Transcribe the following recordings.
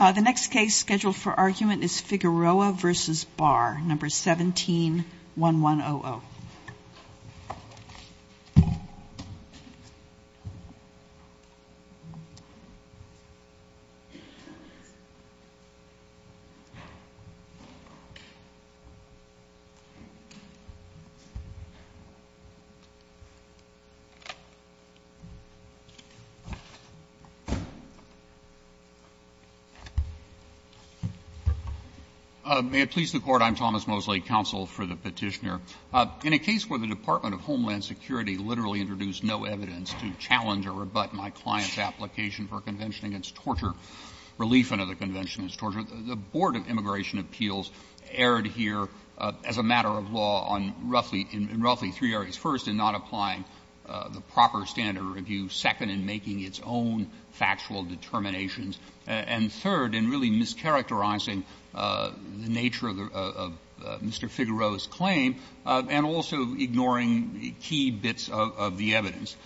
The next case scheduled for argument is Figueroa v. Barr, No. 17-1100. Mr. Mosley, counsel for the Petitioner. In a case where the Department of Homeland Security literally introduced no evidence to challenge or rebut my client's application for a Convention against Torture, relief under the Convention against Torture, the Board of Immigration Appeals erred here as a matter of law on roughly — in roughly three areas. First, in not applying the proper standard of review. Second, in making its own factual determinations. And third, in really mischaracterizing the nature of Mr. Figueroa's claim, and also ignoring key bits of the evidence.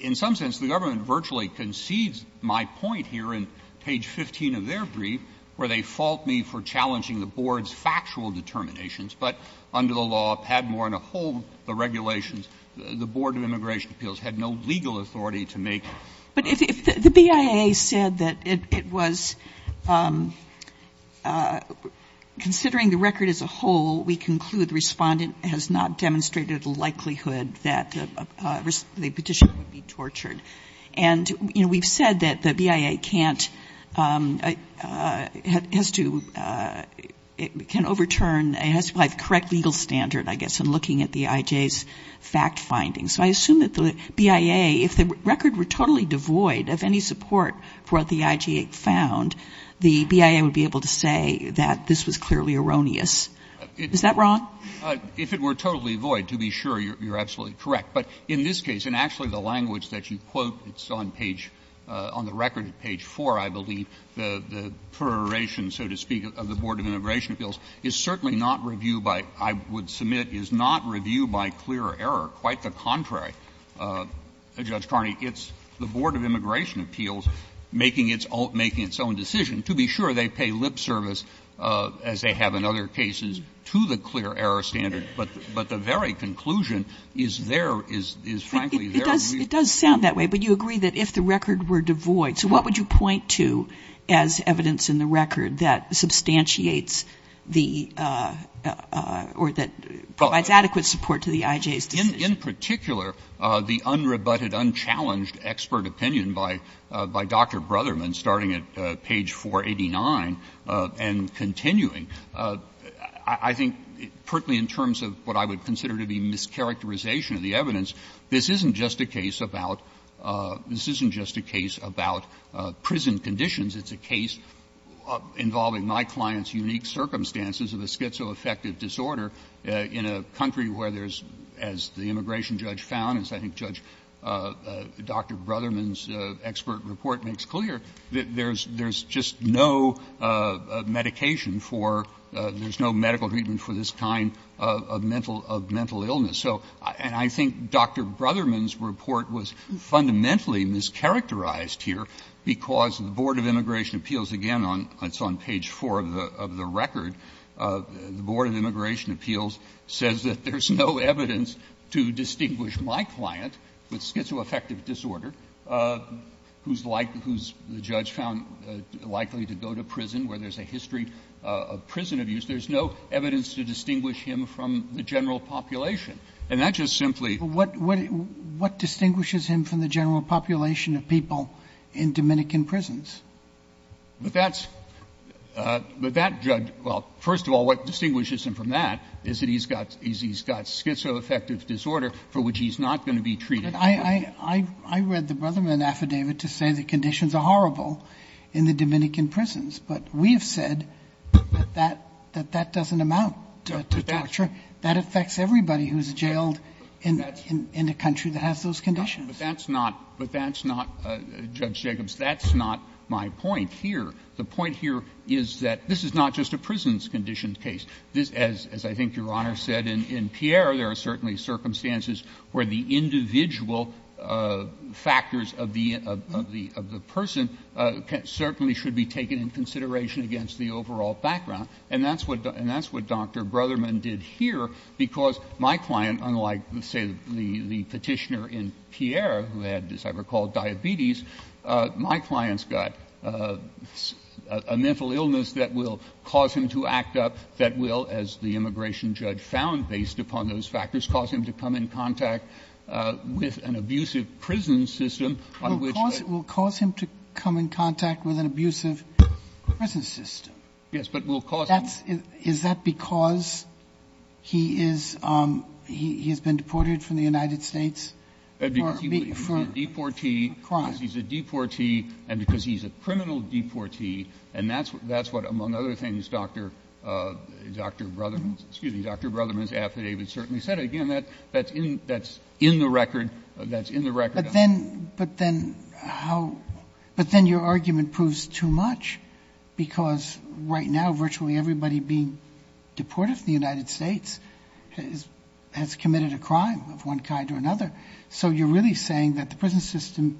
In some sense, the government virtually concedes my point here in page 15 of their brief, where they fault me for challenging the Board's factual determinations, but under the law, Padmore and a whole of the authority to make. But if the BIA said that it was — considering the record as a whole, we conclude the Respondent has not demonstrated a likelihood that the Petitioner would be tortured. And, you know, we've said that the BIA can't — has to — can overturn — has to apply the correct legal standard, I guess, in looking at the IJ's fact findings. So I assume that the BIA, if the record were totally devoid of any support for what the IJ found, the BIA would be able to say that this was clearly erroneous. Is that wrong? If it were totally void, to be sure, you're absolutely correct. But in this case, and actually the language that you quote, it's on page — on the record at page 4, I believe, the proliferation, so to speak, of the Board of Immigration Appeals, is certainly not review by — I would submit is not review by clear error. Quite the contrary, Judge Carney. It's the Board of Immigration Appeals making its own — making its own decision. To be sure, they pay lip service, as they have in other cases, to the clear error standard. But the very conclusion is there — is, frankly, there. It does — it does sound that way, but you agree that if the record were devoid — so what would you point to as evidence in the record that substantiates the — or that provides adequate support to the IJ's decision? In particular, the unrebutted, unchallenged expert opinion by — by Dr. Brotherman, starting at page 489 and continuing, I think, partly in terms of what I would consider to be mischaracterization of the evidence, this isn't just a case about — this isn't just a case about prison conditions. It's a case involving my client's unique circumstances of a schizoaffective disorder in a country where there's — as the immigration judge found, as I think Judge — Dr. Brotherman's expert report makes clear, that there's — there's just no medication for — there's no medical treatment for this kind of mental — of mental illness. So — and I think Dr. Brotherman's report was fundamentally mischaracterized here because the Board of Immigration Appeals, again, on — it's on page 4 of the record, the Board of Immigration Appeals says that there's no evidence to distinguish my client with schizoaffective disorder, who's like — who's, the judge found, likely to go to prison, where there's a history of prison abuse. There's no evidence to distinguish him from the general population. And that just simply — Robertson, what — what distinguishes him from the general population of people in Dominican prisons? But that's — but that judge — well, first of all, what distinguishes him from that is that he's got — is he's got schizoaffective disorder for which he's not going to be treated. But I — I read the Brotherman affidavit to say the conditions are horrible in the Dominican prisons, but we have said that that — that that doesn't amount to torture. That affects everybody who's jailed in — in a country that has those conditions. But that's not — but that's not — Judge Jacobs, that's not my point here. The point here is that this is not just a prisons-conditioned case. This, as — as I think Your Honor said, in — in Pierre, there are certainly circumstances where the individual factors of the — of the — of the person certainly should be taken in consideration against the overall background. And that's what — and that's what Dr. Brotherman did here, because my client, unlike, let's say, the — the Petitioner in Pierre, who had, as I recall, diabetes, my client's got a — a mental illness that will cause him to act up, that will, as the immigration judge found based upon those factors, cause him to come in contact with an abusive prison system on which — Sotomayor, will cause him to come in contact with an abusive prison system. Yes, but will cause him — That's — is that because he is — he has been deported from the United States? Because he was a deportee, because he's a deportee, and because he's a criminal deportee, and that's what, among other things, Dr. — Dr. Brotherman's — excuse me, Dr. Brotherman's affidavit certainly said it. Again, that — that's in — that's in the record. That's in the record. But then — but then how — but then your argument proves too much, because right now, virtually everybody being deported from the United States has — has committed a crime of one kind or another. So you're really saying that the prison system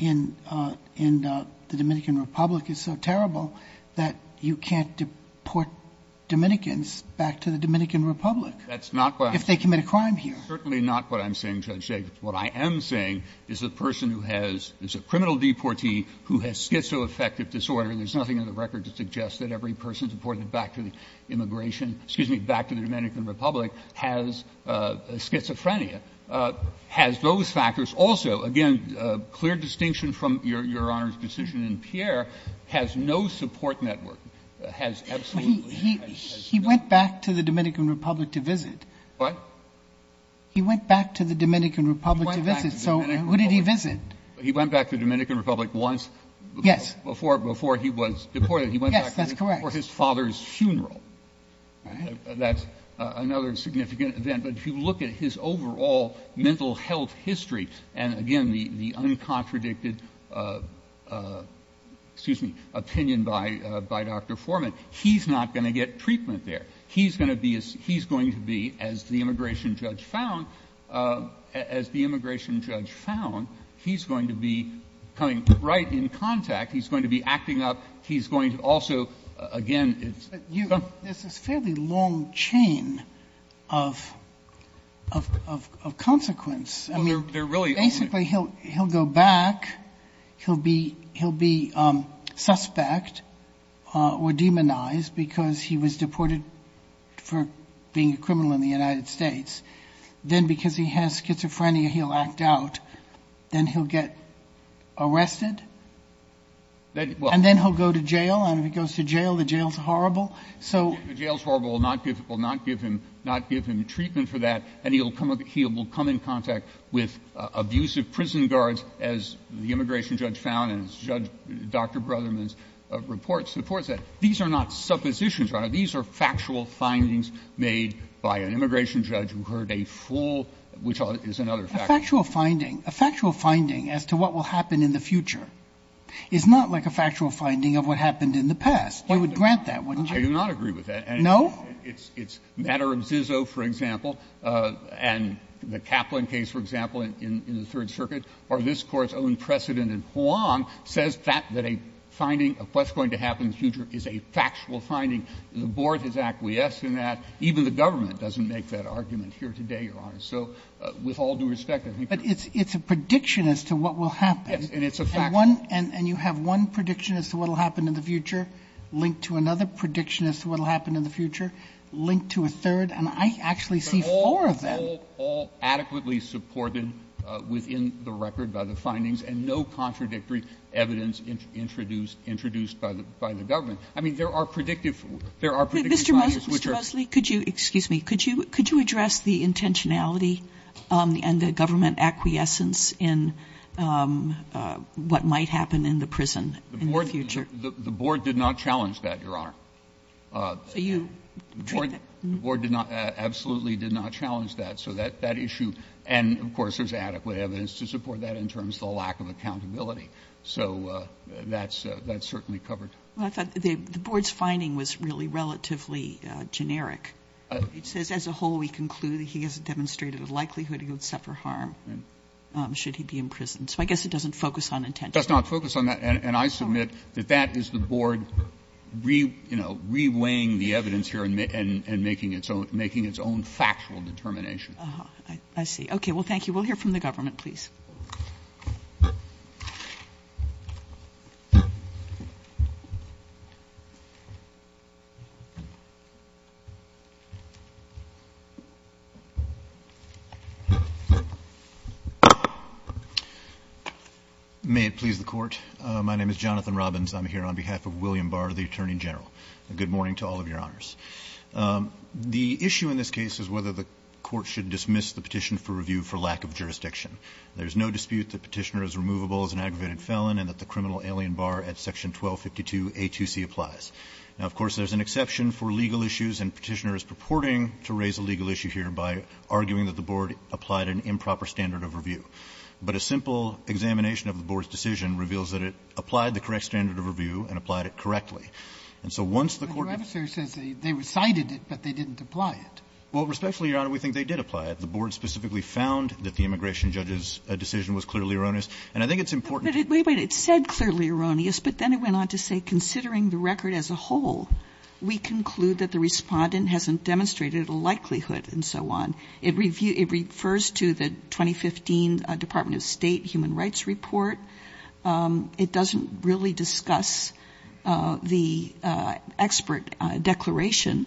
in — in the Dominican Republic is so terrible that you can't deport Dominicans back to the Dominican Republic — That's not what I'm —— if they commit a crime here. That's certainly not what I'm saying, Judge Jacobs. What I am saying is a person who has — is a criminal deportee who has schizoaffective disorder, there's nothing in the record to suggest that every person deported back to the immigration — excuse me, back to the Dominican Republic has schizophrenia, has those factors. Also, again, clear distinction from Your Honor's decision in Pierre, has no support network, has absolutely — He — he — he went back to the Dominican Republic to visit. What? He went back to the Dominican Republic to visit. He went back to the Dominican Republic. So what did he visit? He went back to the Dominican Republic once — Yes. — before — before he was deported. He went back to the — Yes, that's correct. — for his father's funeral. That's another significant event. But if you look at his overall mental health history, and again, the — the uncontradicted — excuse me — opinion by — by Dr. Foreman, he's not going to get treatment there. He's going to be — he's going to be, as the immigration judge found — as the immigration judge found, he's going to be coming right in contact. He's going to be acting up. He's going to also — again, it's — But you — there's this fairly long chain of — of — of consequence. I mean — Well, they're really — Basically, he'll — he'll go back. He'll be — he'll be suspect or demonized because he was deported for being a criminal in the United States. Then, because he has schizophrenia, he'll act out. Then he'll get arrested. And then he'll go to jail. And if he goes to jail, the jail's horrible. So — The jail's horrible. It will not give him — not give him treatment for that. And he'll come — he will come in contact with abusive prison guards, as the immigration judge found and as Judge — Dr. Brotherman's report supports that. These are not suppositions, Your Honor. factual — A factual finding — a factual finding as to what will happen in the future is not like a factual finding of what happened in the past. We would grant that, wouldn't you? I do not agree with that. No? It's — it's — Matter of Zizzo, for example, and the Kaplan case, for example, in — in the Third Circuit, or this Court's own precedent in Hoang says that — that a finding of what's going to happen in the future is a factual finding. The Board has acquiesced in that. Even the government doesn't make that argument here today, Your Honor. So with all due respect, I think you're — But it's — it's a prediction as to what will happen. Yes, and it's a factual — And one — and you have one prediction as to what will happen in the future linked to another prediction as to what will happen in the future linked to a third, and I actually see four of them. But all — all adequately supported within the record by the findings, and no contradictory evidence introduced — introduced by the — by the government. I mean, there are predictive — there are predictive findings, which are — Mr. — Mr. Mosley, could you — excuse me. Could you — could you address the intentionality and the government acquiescence in what might happen in the prison in the future? The — the Board did not challenge that, Your Honor. So you treat that — The Board — the Board did not — absolutely did not challenge that. So that — that issue — and, of course, there's adequate evidence to support that in terms of the lack of accountability. So that's — that's certainly covered. Well, I thought the — the Board's finding was really relatively generic. It says, as a whole, we conclude that he has demonstrated a likelihood he would suffer harm should he be imprisoned. So I guess it doesn't focus on intentionality. It does not focus on that. And I submit that that is the Board re — you know, reweighing the evidence here and making its own — making its own factual determination. I see. Okay. Well, thank you. We'll hear from the government, please. May it please the Court. My name is Jonathan Robbins. I'm here on behalf of William Barr, the Attorney General. Good morning to all of your honors. The issue in this case is whether the Court should dismiss the petition for review for lack of jurisdiction. There's no dispute that Petitioner is removable as an aggravated felon and that the criminal alien, Barr, at Section 1252A2C applies. Now, of course, there's an exception for legal issues, and Petitioner is purporting to raise a legal issue here by arguing that the Board applied an improper standard of review. But a simple examination of the Board's decision reveals that it applied the correct standard of review and applied it correctly. And so once the Court — But your adversary says they recited it, but they didn't apply it. Well, respectfully, Your Honor, we think they did apply it. The Board specifically found that the immigration judge's decision was clearly erroneous. And I think it's important to — Wait, wait, it said clearly erroneous, but then it went on to say, considering the record as a whole, we conclude that the Respondent hasn't demonstrated a likelihood, and so on. It refers to the 2015 Department of State Human Rights Report. It doesn't really discuss the expert declaration.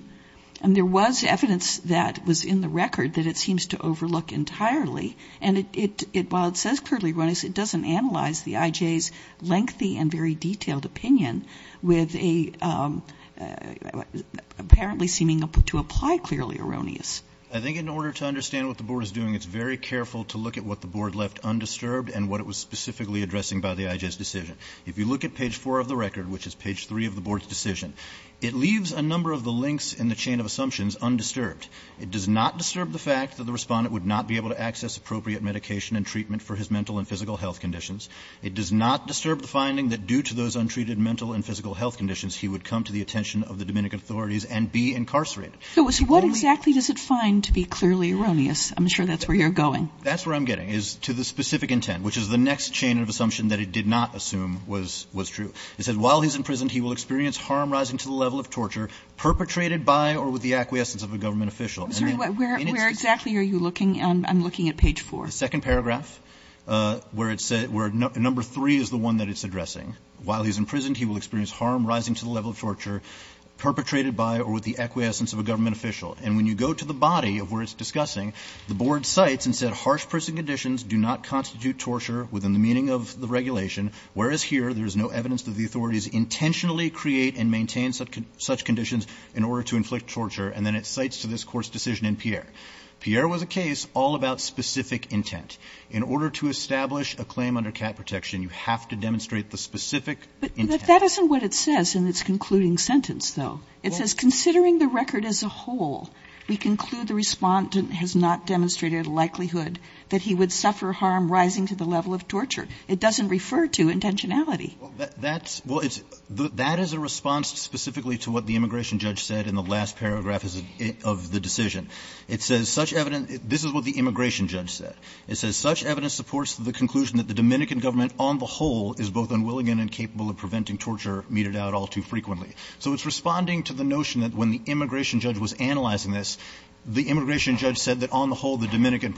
And there was evidence that was in the record that it seems to overlook entirely. And it — while it says clearly erroneous, it doesn't analyze the IJ's lengthy and very detailed opinion with a — apparently seeming to apply clearly erroneous. I think in order to understand what the Board is doing, it's very careful to look at what the Board left undisturbed and what it was specifically addressing by the IJ's decision. If you look at page 4 of the record, which is page 3 of the Board's decision, it leaves a number of the links in the chain of assumptions undisturbed. It does not disturb the fact that the Respondent would not be able to access appropriate medication and treatment for his mental and physical health conditions. It does not disturb the finding that due to those untreated mental and physical health conditions, he would come to the attention of the Dominican authorities and be incarcerated. Kagan. Kagan. Kagan. So what exactly does it find to be clearly erroneous? I'm sure that's where you're going. That's where I'm getting, is to the specific intent, which is the next chain of assumption that it did not assume was true. It says, While he's in prison, he will experience harm rising to the level of torture perpetrated by or with the acquiescence of a government official. I'm sorry, where exactly are you looking? I'm looking at page 4. The second paragraph, where it says, where number 3 is the one that it's addressing. While he's in prison, he will experience harm rising to the level of torture perpetrated by or with the acquiescence of a government official. And when you go to the body of where it's discussing, the Board cites and said, Harsh prison conditions do not constitute torture within the meaning of the regulation, whereas here there is no evidence that the authorities intentionally create and maintain such conditions in order to inflict torture. And then it cites to this Court's decision in Pierre. Pierre was a case all about specific intent. In order to establish a claim under cat protection, you have to demonstrate the specific intent. But that isn't what it says in its concluding sentence, though. It says, Considering the record as a whole, we conclude the respondent has not demonstrated a likelihood that he would suffer harm rising to the level of torture. It doesn't refer to intentionality. Well, that's, well, it's, that is a response specifically to what the immigration judge said in the last paragraph of the decision. It says, Such evidence, this is what the immigration judge said. It says, Such evidence supports the conclusion that the Dominican government on the whole is both unwilling and incapable of preventing torture meted out all too frequently. So it's responding to the notion that when the immigration judge was analyzing this, the immigration judge said that on the whole, the Dominican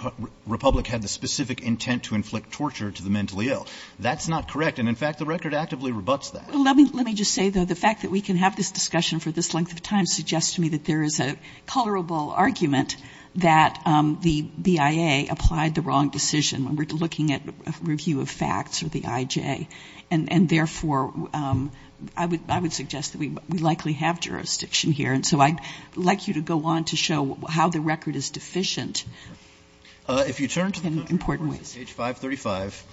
Republic had the specific intent to inflict torture to the mentally ill. That's not correct. And in fact, the record actively rebutts that. Well, let me just say, though, the fact that we can have this discussion for this argument, that the BIA applied the wrong decision when we're looking at a review of facts or the IJ, and therefore, I would suggest that we likely have jurisdiction here, and so I'd like you to go on to show how the record is deficient. If you turn to page 535,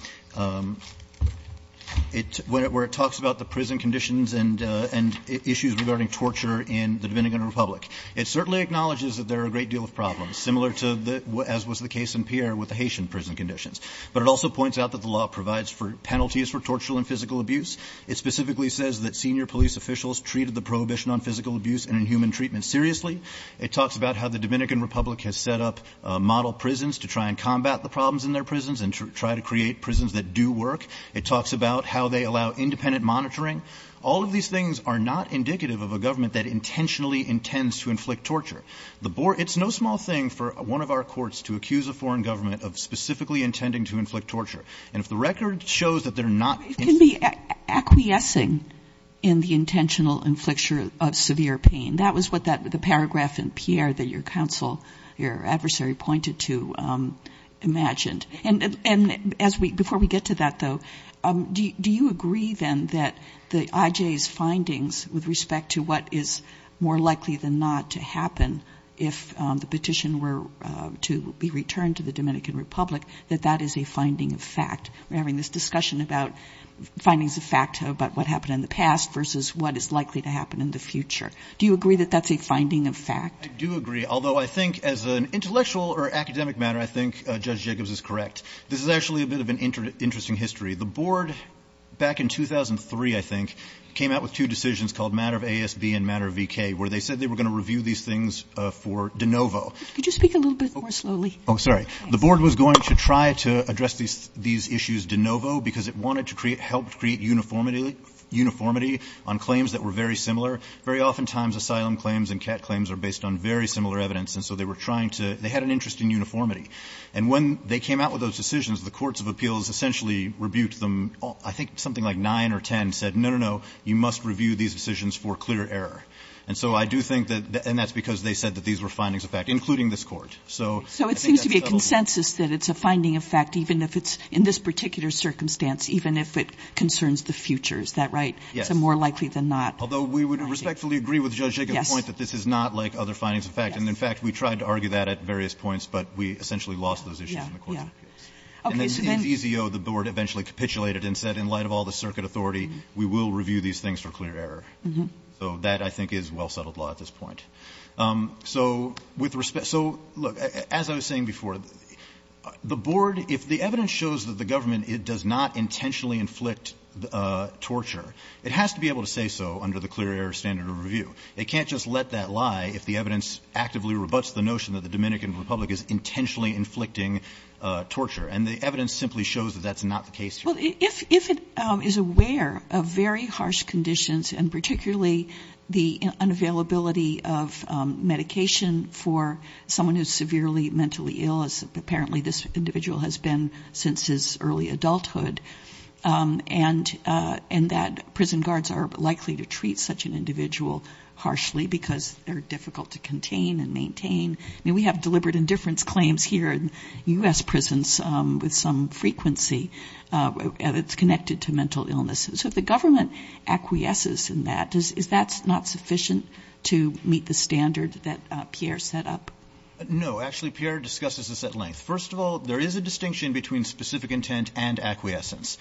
where it talks about the prison conditions and issues regarding torture in the Dominican Republic. It certainly acknowledges that there are a great deal of problems, similar to the as was the case in Pierre with the Haitian prison conditions. But it also points out that the law provides for penalties for torture and physical abuse. It specifically says that senior police officials treated the prohibition on physical abuse and inhuman treatment seriously. It talks about how the Dominican Republic has set up model prisons to try and combat the problems in their prisons and try to create prisons that do work. It talks about how they allow independent monitoring. All of these things are not indicative of a government that intentionally intends to inflict torture. The board — it's no small thing for one of our courts to accuse a foreign government of specifically intending to inflict torture. And if the record shows that they're not — It can be acquiescing in the intentional infliction of severe pain. That was what that — the paragraph in Pierre that your counsel, your adversary pointed to, imagined. And as we — before we get to that, though, do you agree, then, that the IJ's findings with respect to what is more likely than not to happen if the petition were to be returned to the Dominican Republic, that that is a finding of fact? We're having this discussion about findings of fact about what happened in the past versus what is likely to happen in the future. Do you agree that that's a finding of fact? I do agree, although I think as an intellectual or academic matter, I think Judge Jacobs is correct. This is actually a bit of an interesting history. The board, back in 2003, I think, came out with two decisions called matter of ASB and matter of VK, where they said they were going to review these things for de novo. Could you speak a little bit more slowly? Oh, sorry. The board was going to try to address these issues de novo because it wanted to help create uniformity on claims that were very similar. Very oftentimes, asylum claims and cat claims are based on very similar evidence. And so they were trying to — they had an interest in uniformity. And when they came out with those decisions, the courts of appeals essentially rebuked them. I think something like nine or ten said, no, no, no, you must review these decisions for clear error. And so I do think that — and that's because they said that these were findings of fact, including this Court. So I think that's a settlement. So it seems to be a consensus that it's a finding of fact, even if it's in this particular circumstance, even if it concerns the future. Is that right? Yes. So more likely than not. Although we would respectfully agree with Judge Jacobs' point that this is not like other findings of fact. And, in fact, we tried to argue that at various points, but we essentially lost those issues in the courts of appeals. And then EZO, the board, eventually capitulated and said, in light of all the circuit authority, we will review these things for clear error. So that, I think, is well-settled law at this point. So with respect — so, look, as I was saying before, the board, if the evidence shows that the government does not intentionally inflict torture, it has to be able to say so under the clear error standard of review. They can't just let that lie if the evidence actively rebuts the notion that the Dominican Republic is intentionally inflicting torture. And the evidence simply shows that that's not the case here. Well, if it is aware of very harsh conditions, and particularly the unavailability of medication for someone who's severely mentally ill, as apparently this individual has been since his early adulthood, and that prison guards are likely to treat such an individual harshly because they're difficult to contain and maintain — I mean, we have deliberate indifference claims here in U.S. prisons with some frequency that's connected to mental illness. So if the government acquiesces in that, is that not sufficient to meet the standard that Pierre set up? No. Actually, Pierre discusses this at length. First of all, there is a distinction between specific intent and acquiescence.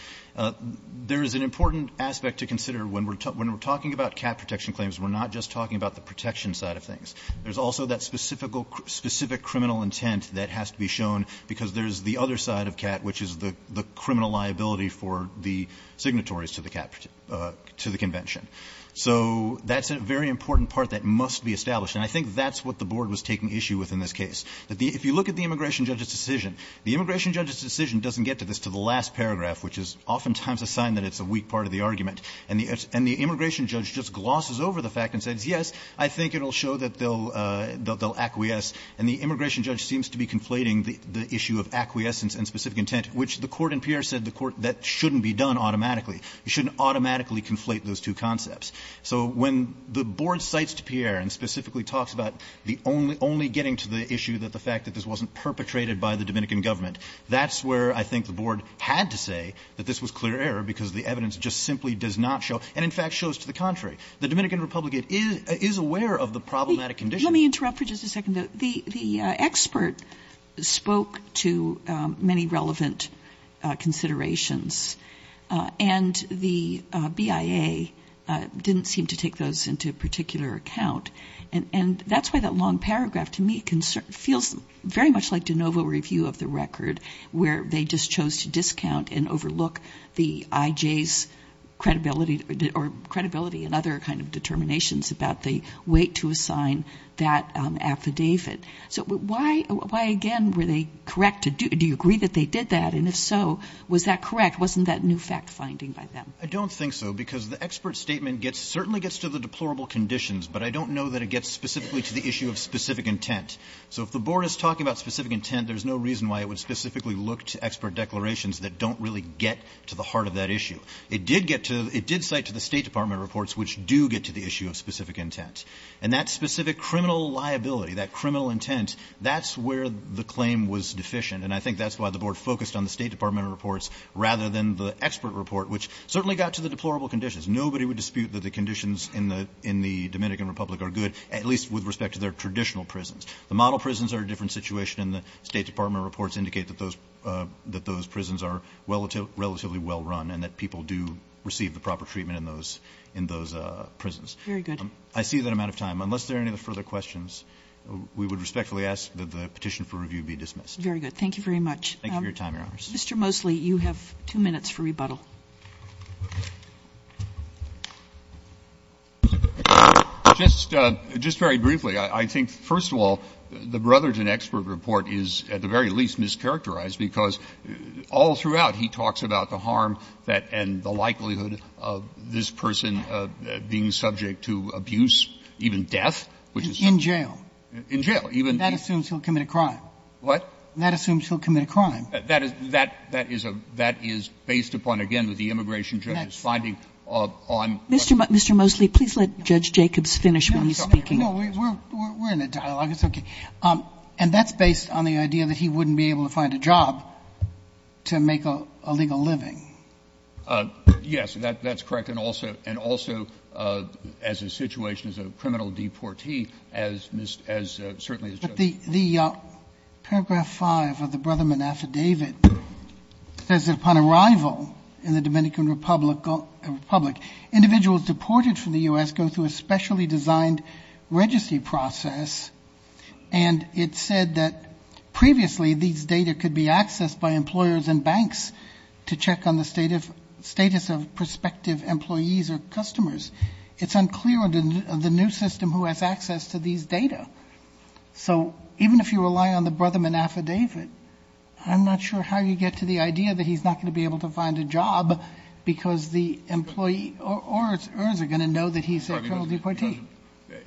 There is an important aspect to consider. When we're talking about cat protection claims, we're not just talking about the protection side of things. There's also that specific criminal intent that has to be shown because there's the other side of cat, which is the criminal liability for the signatories to the convention. So that's a very important part that must be established. And I think that's what the Board was taking issue with in this case. If you look at the immigration judge's decision, the immigration judge's decision doesn't get to this, to the last paragraph, which is oftentimes a sign that it's a weak part of the argument. And the immigration judge just glosses over the fact and says, yes, I think it will show that they'll acquiesce. And the immigration judge seems to be conflating the issue of acquiescence and specific intent, which the Court in Pierre said the Court — that shouldn't be done automatically. You shouldn't automatically conflate those two concepts. So when the Board cites Pierre and specifically talks about the only — only getting to the issue that the fact that this wasn't perpetrated by the Dominican government, that's where I think the Board had to say that this was clear error because the evidence just simply does not show, and in fact shows to the contrary. The Dominican Republic is aware of the problematic condition. Let me interrupt for just a second, though. The expert spoke to many relevant considerations, and the BIA didn't seem to take those into particular account. And that's why that long paragraph, to me, feels very much like de novo review of the record, where they just chose to discount and overlook the IJ's credibility — or credibility and other kind of determinations about the weight to assign that affidavit. So why, again, were they correct to do — do you agree that they did that, and if so, was that correct? Wasn't that new fact-finding by them? I don't think so, because the expert statement gets — certainly gets to the deplorable conditions, but I don't know that it gets specifically to the issue of specific intent. So if the Board is talking about specific intent, there's no reason why it would specifically look to expert declarations that don't really get to the heart of that issue. It did get to — it did cite to the State Department reports, which do get to the issue of specific intent. And that specific criminal liability, that criminal intent, that's where the claim was deficient, and I think that's why the Board focused on the State Department reports rather than the expert report, which certainly got to the deplorable conditions. Nobody would dispute that the conditions in the Dominican Republic are good, at least with respect to their traditional prisons. The model prisons are a different situation, and the State Department reports indicate that those — that those prisons are relatively well run and that people do receive the proper treatment in those — in those prisons. Very good. I see that I'm out of time. Unless there are any further questions, we would respectfully ask that the petition for review be dismissed. Very good. Thank you very much. Thank you for your time, Your Honors. Mr. Mosley, you have two minutes for rebuttal. Just very briefly, I think, first of all, the Brotherton expert report is at the very least mischaracterized, because all throughout he talks about the harm that — and the likelihood of this person being subject to abuse, even death, which is some— In jail. In jail. That assumes he'll commit a crime. What? That assumes he'll commit a crime. That is — that is a — that is based upon, again, what the immigration judge is finding on— Mr. — Mr. Mosley, please let Judge Jacobs finish when he's speaking. No, we're — we're in a dialogue. It's okay. And that's based on the idea that he wouldn't be able to find a job to make a legal living. Yes, that's correct. And also — and also as a situation as a criminal deportee, as Mr. — as — certainly as Judge— The — the paragraph 5 of the Brotherman affidavit says that upon arrival in the Dominican Republic — Republic, individuals deported from the U.S. go through a specially designed registry process. And it said that previously these data could be accessed by employers and banks to check on the state of — status of prospective employees or customers. It's unclear on the new system who has access to these data. So even if you rely on the Brotherman affidavit, I'm not sure how you get to the idea that he's not going to be able to find a job because the employee or — or is going to know that he's a criminal deportee.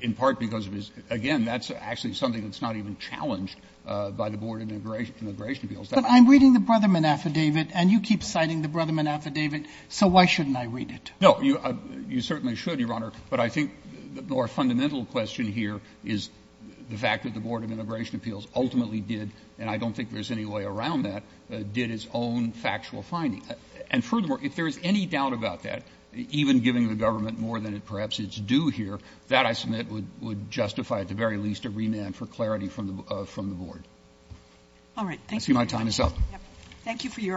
In part because of his — again, that's actually something that's not even challenged by the Board of Immigration — Immigration Appeals. But I'm reading the Brotherman affidavit, and you keep citing the Brotherman affidavit, so why shouldn't I read it? No, you — you certainly should, Your Honor. But I think the more fundamental question here is the fact that the Board of Immigration Appeals ultimately did — and I don't think there's any way around that — did its own factual finding. And furthermore, if there is any doubt about that, even giving the government more than it perhaps is due here, that, I submit, would — would justify at the very least a remand for clarity from the — from the Board. All right. Thank you. I see my time is up. Yep. Thank you for your arguments.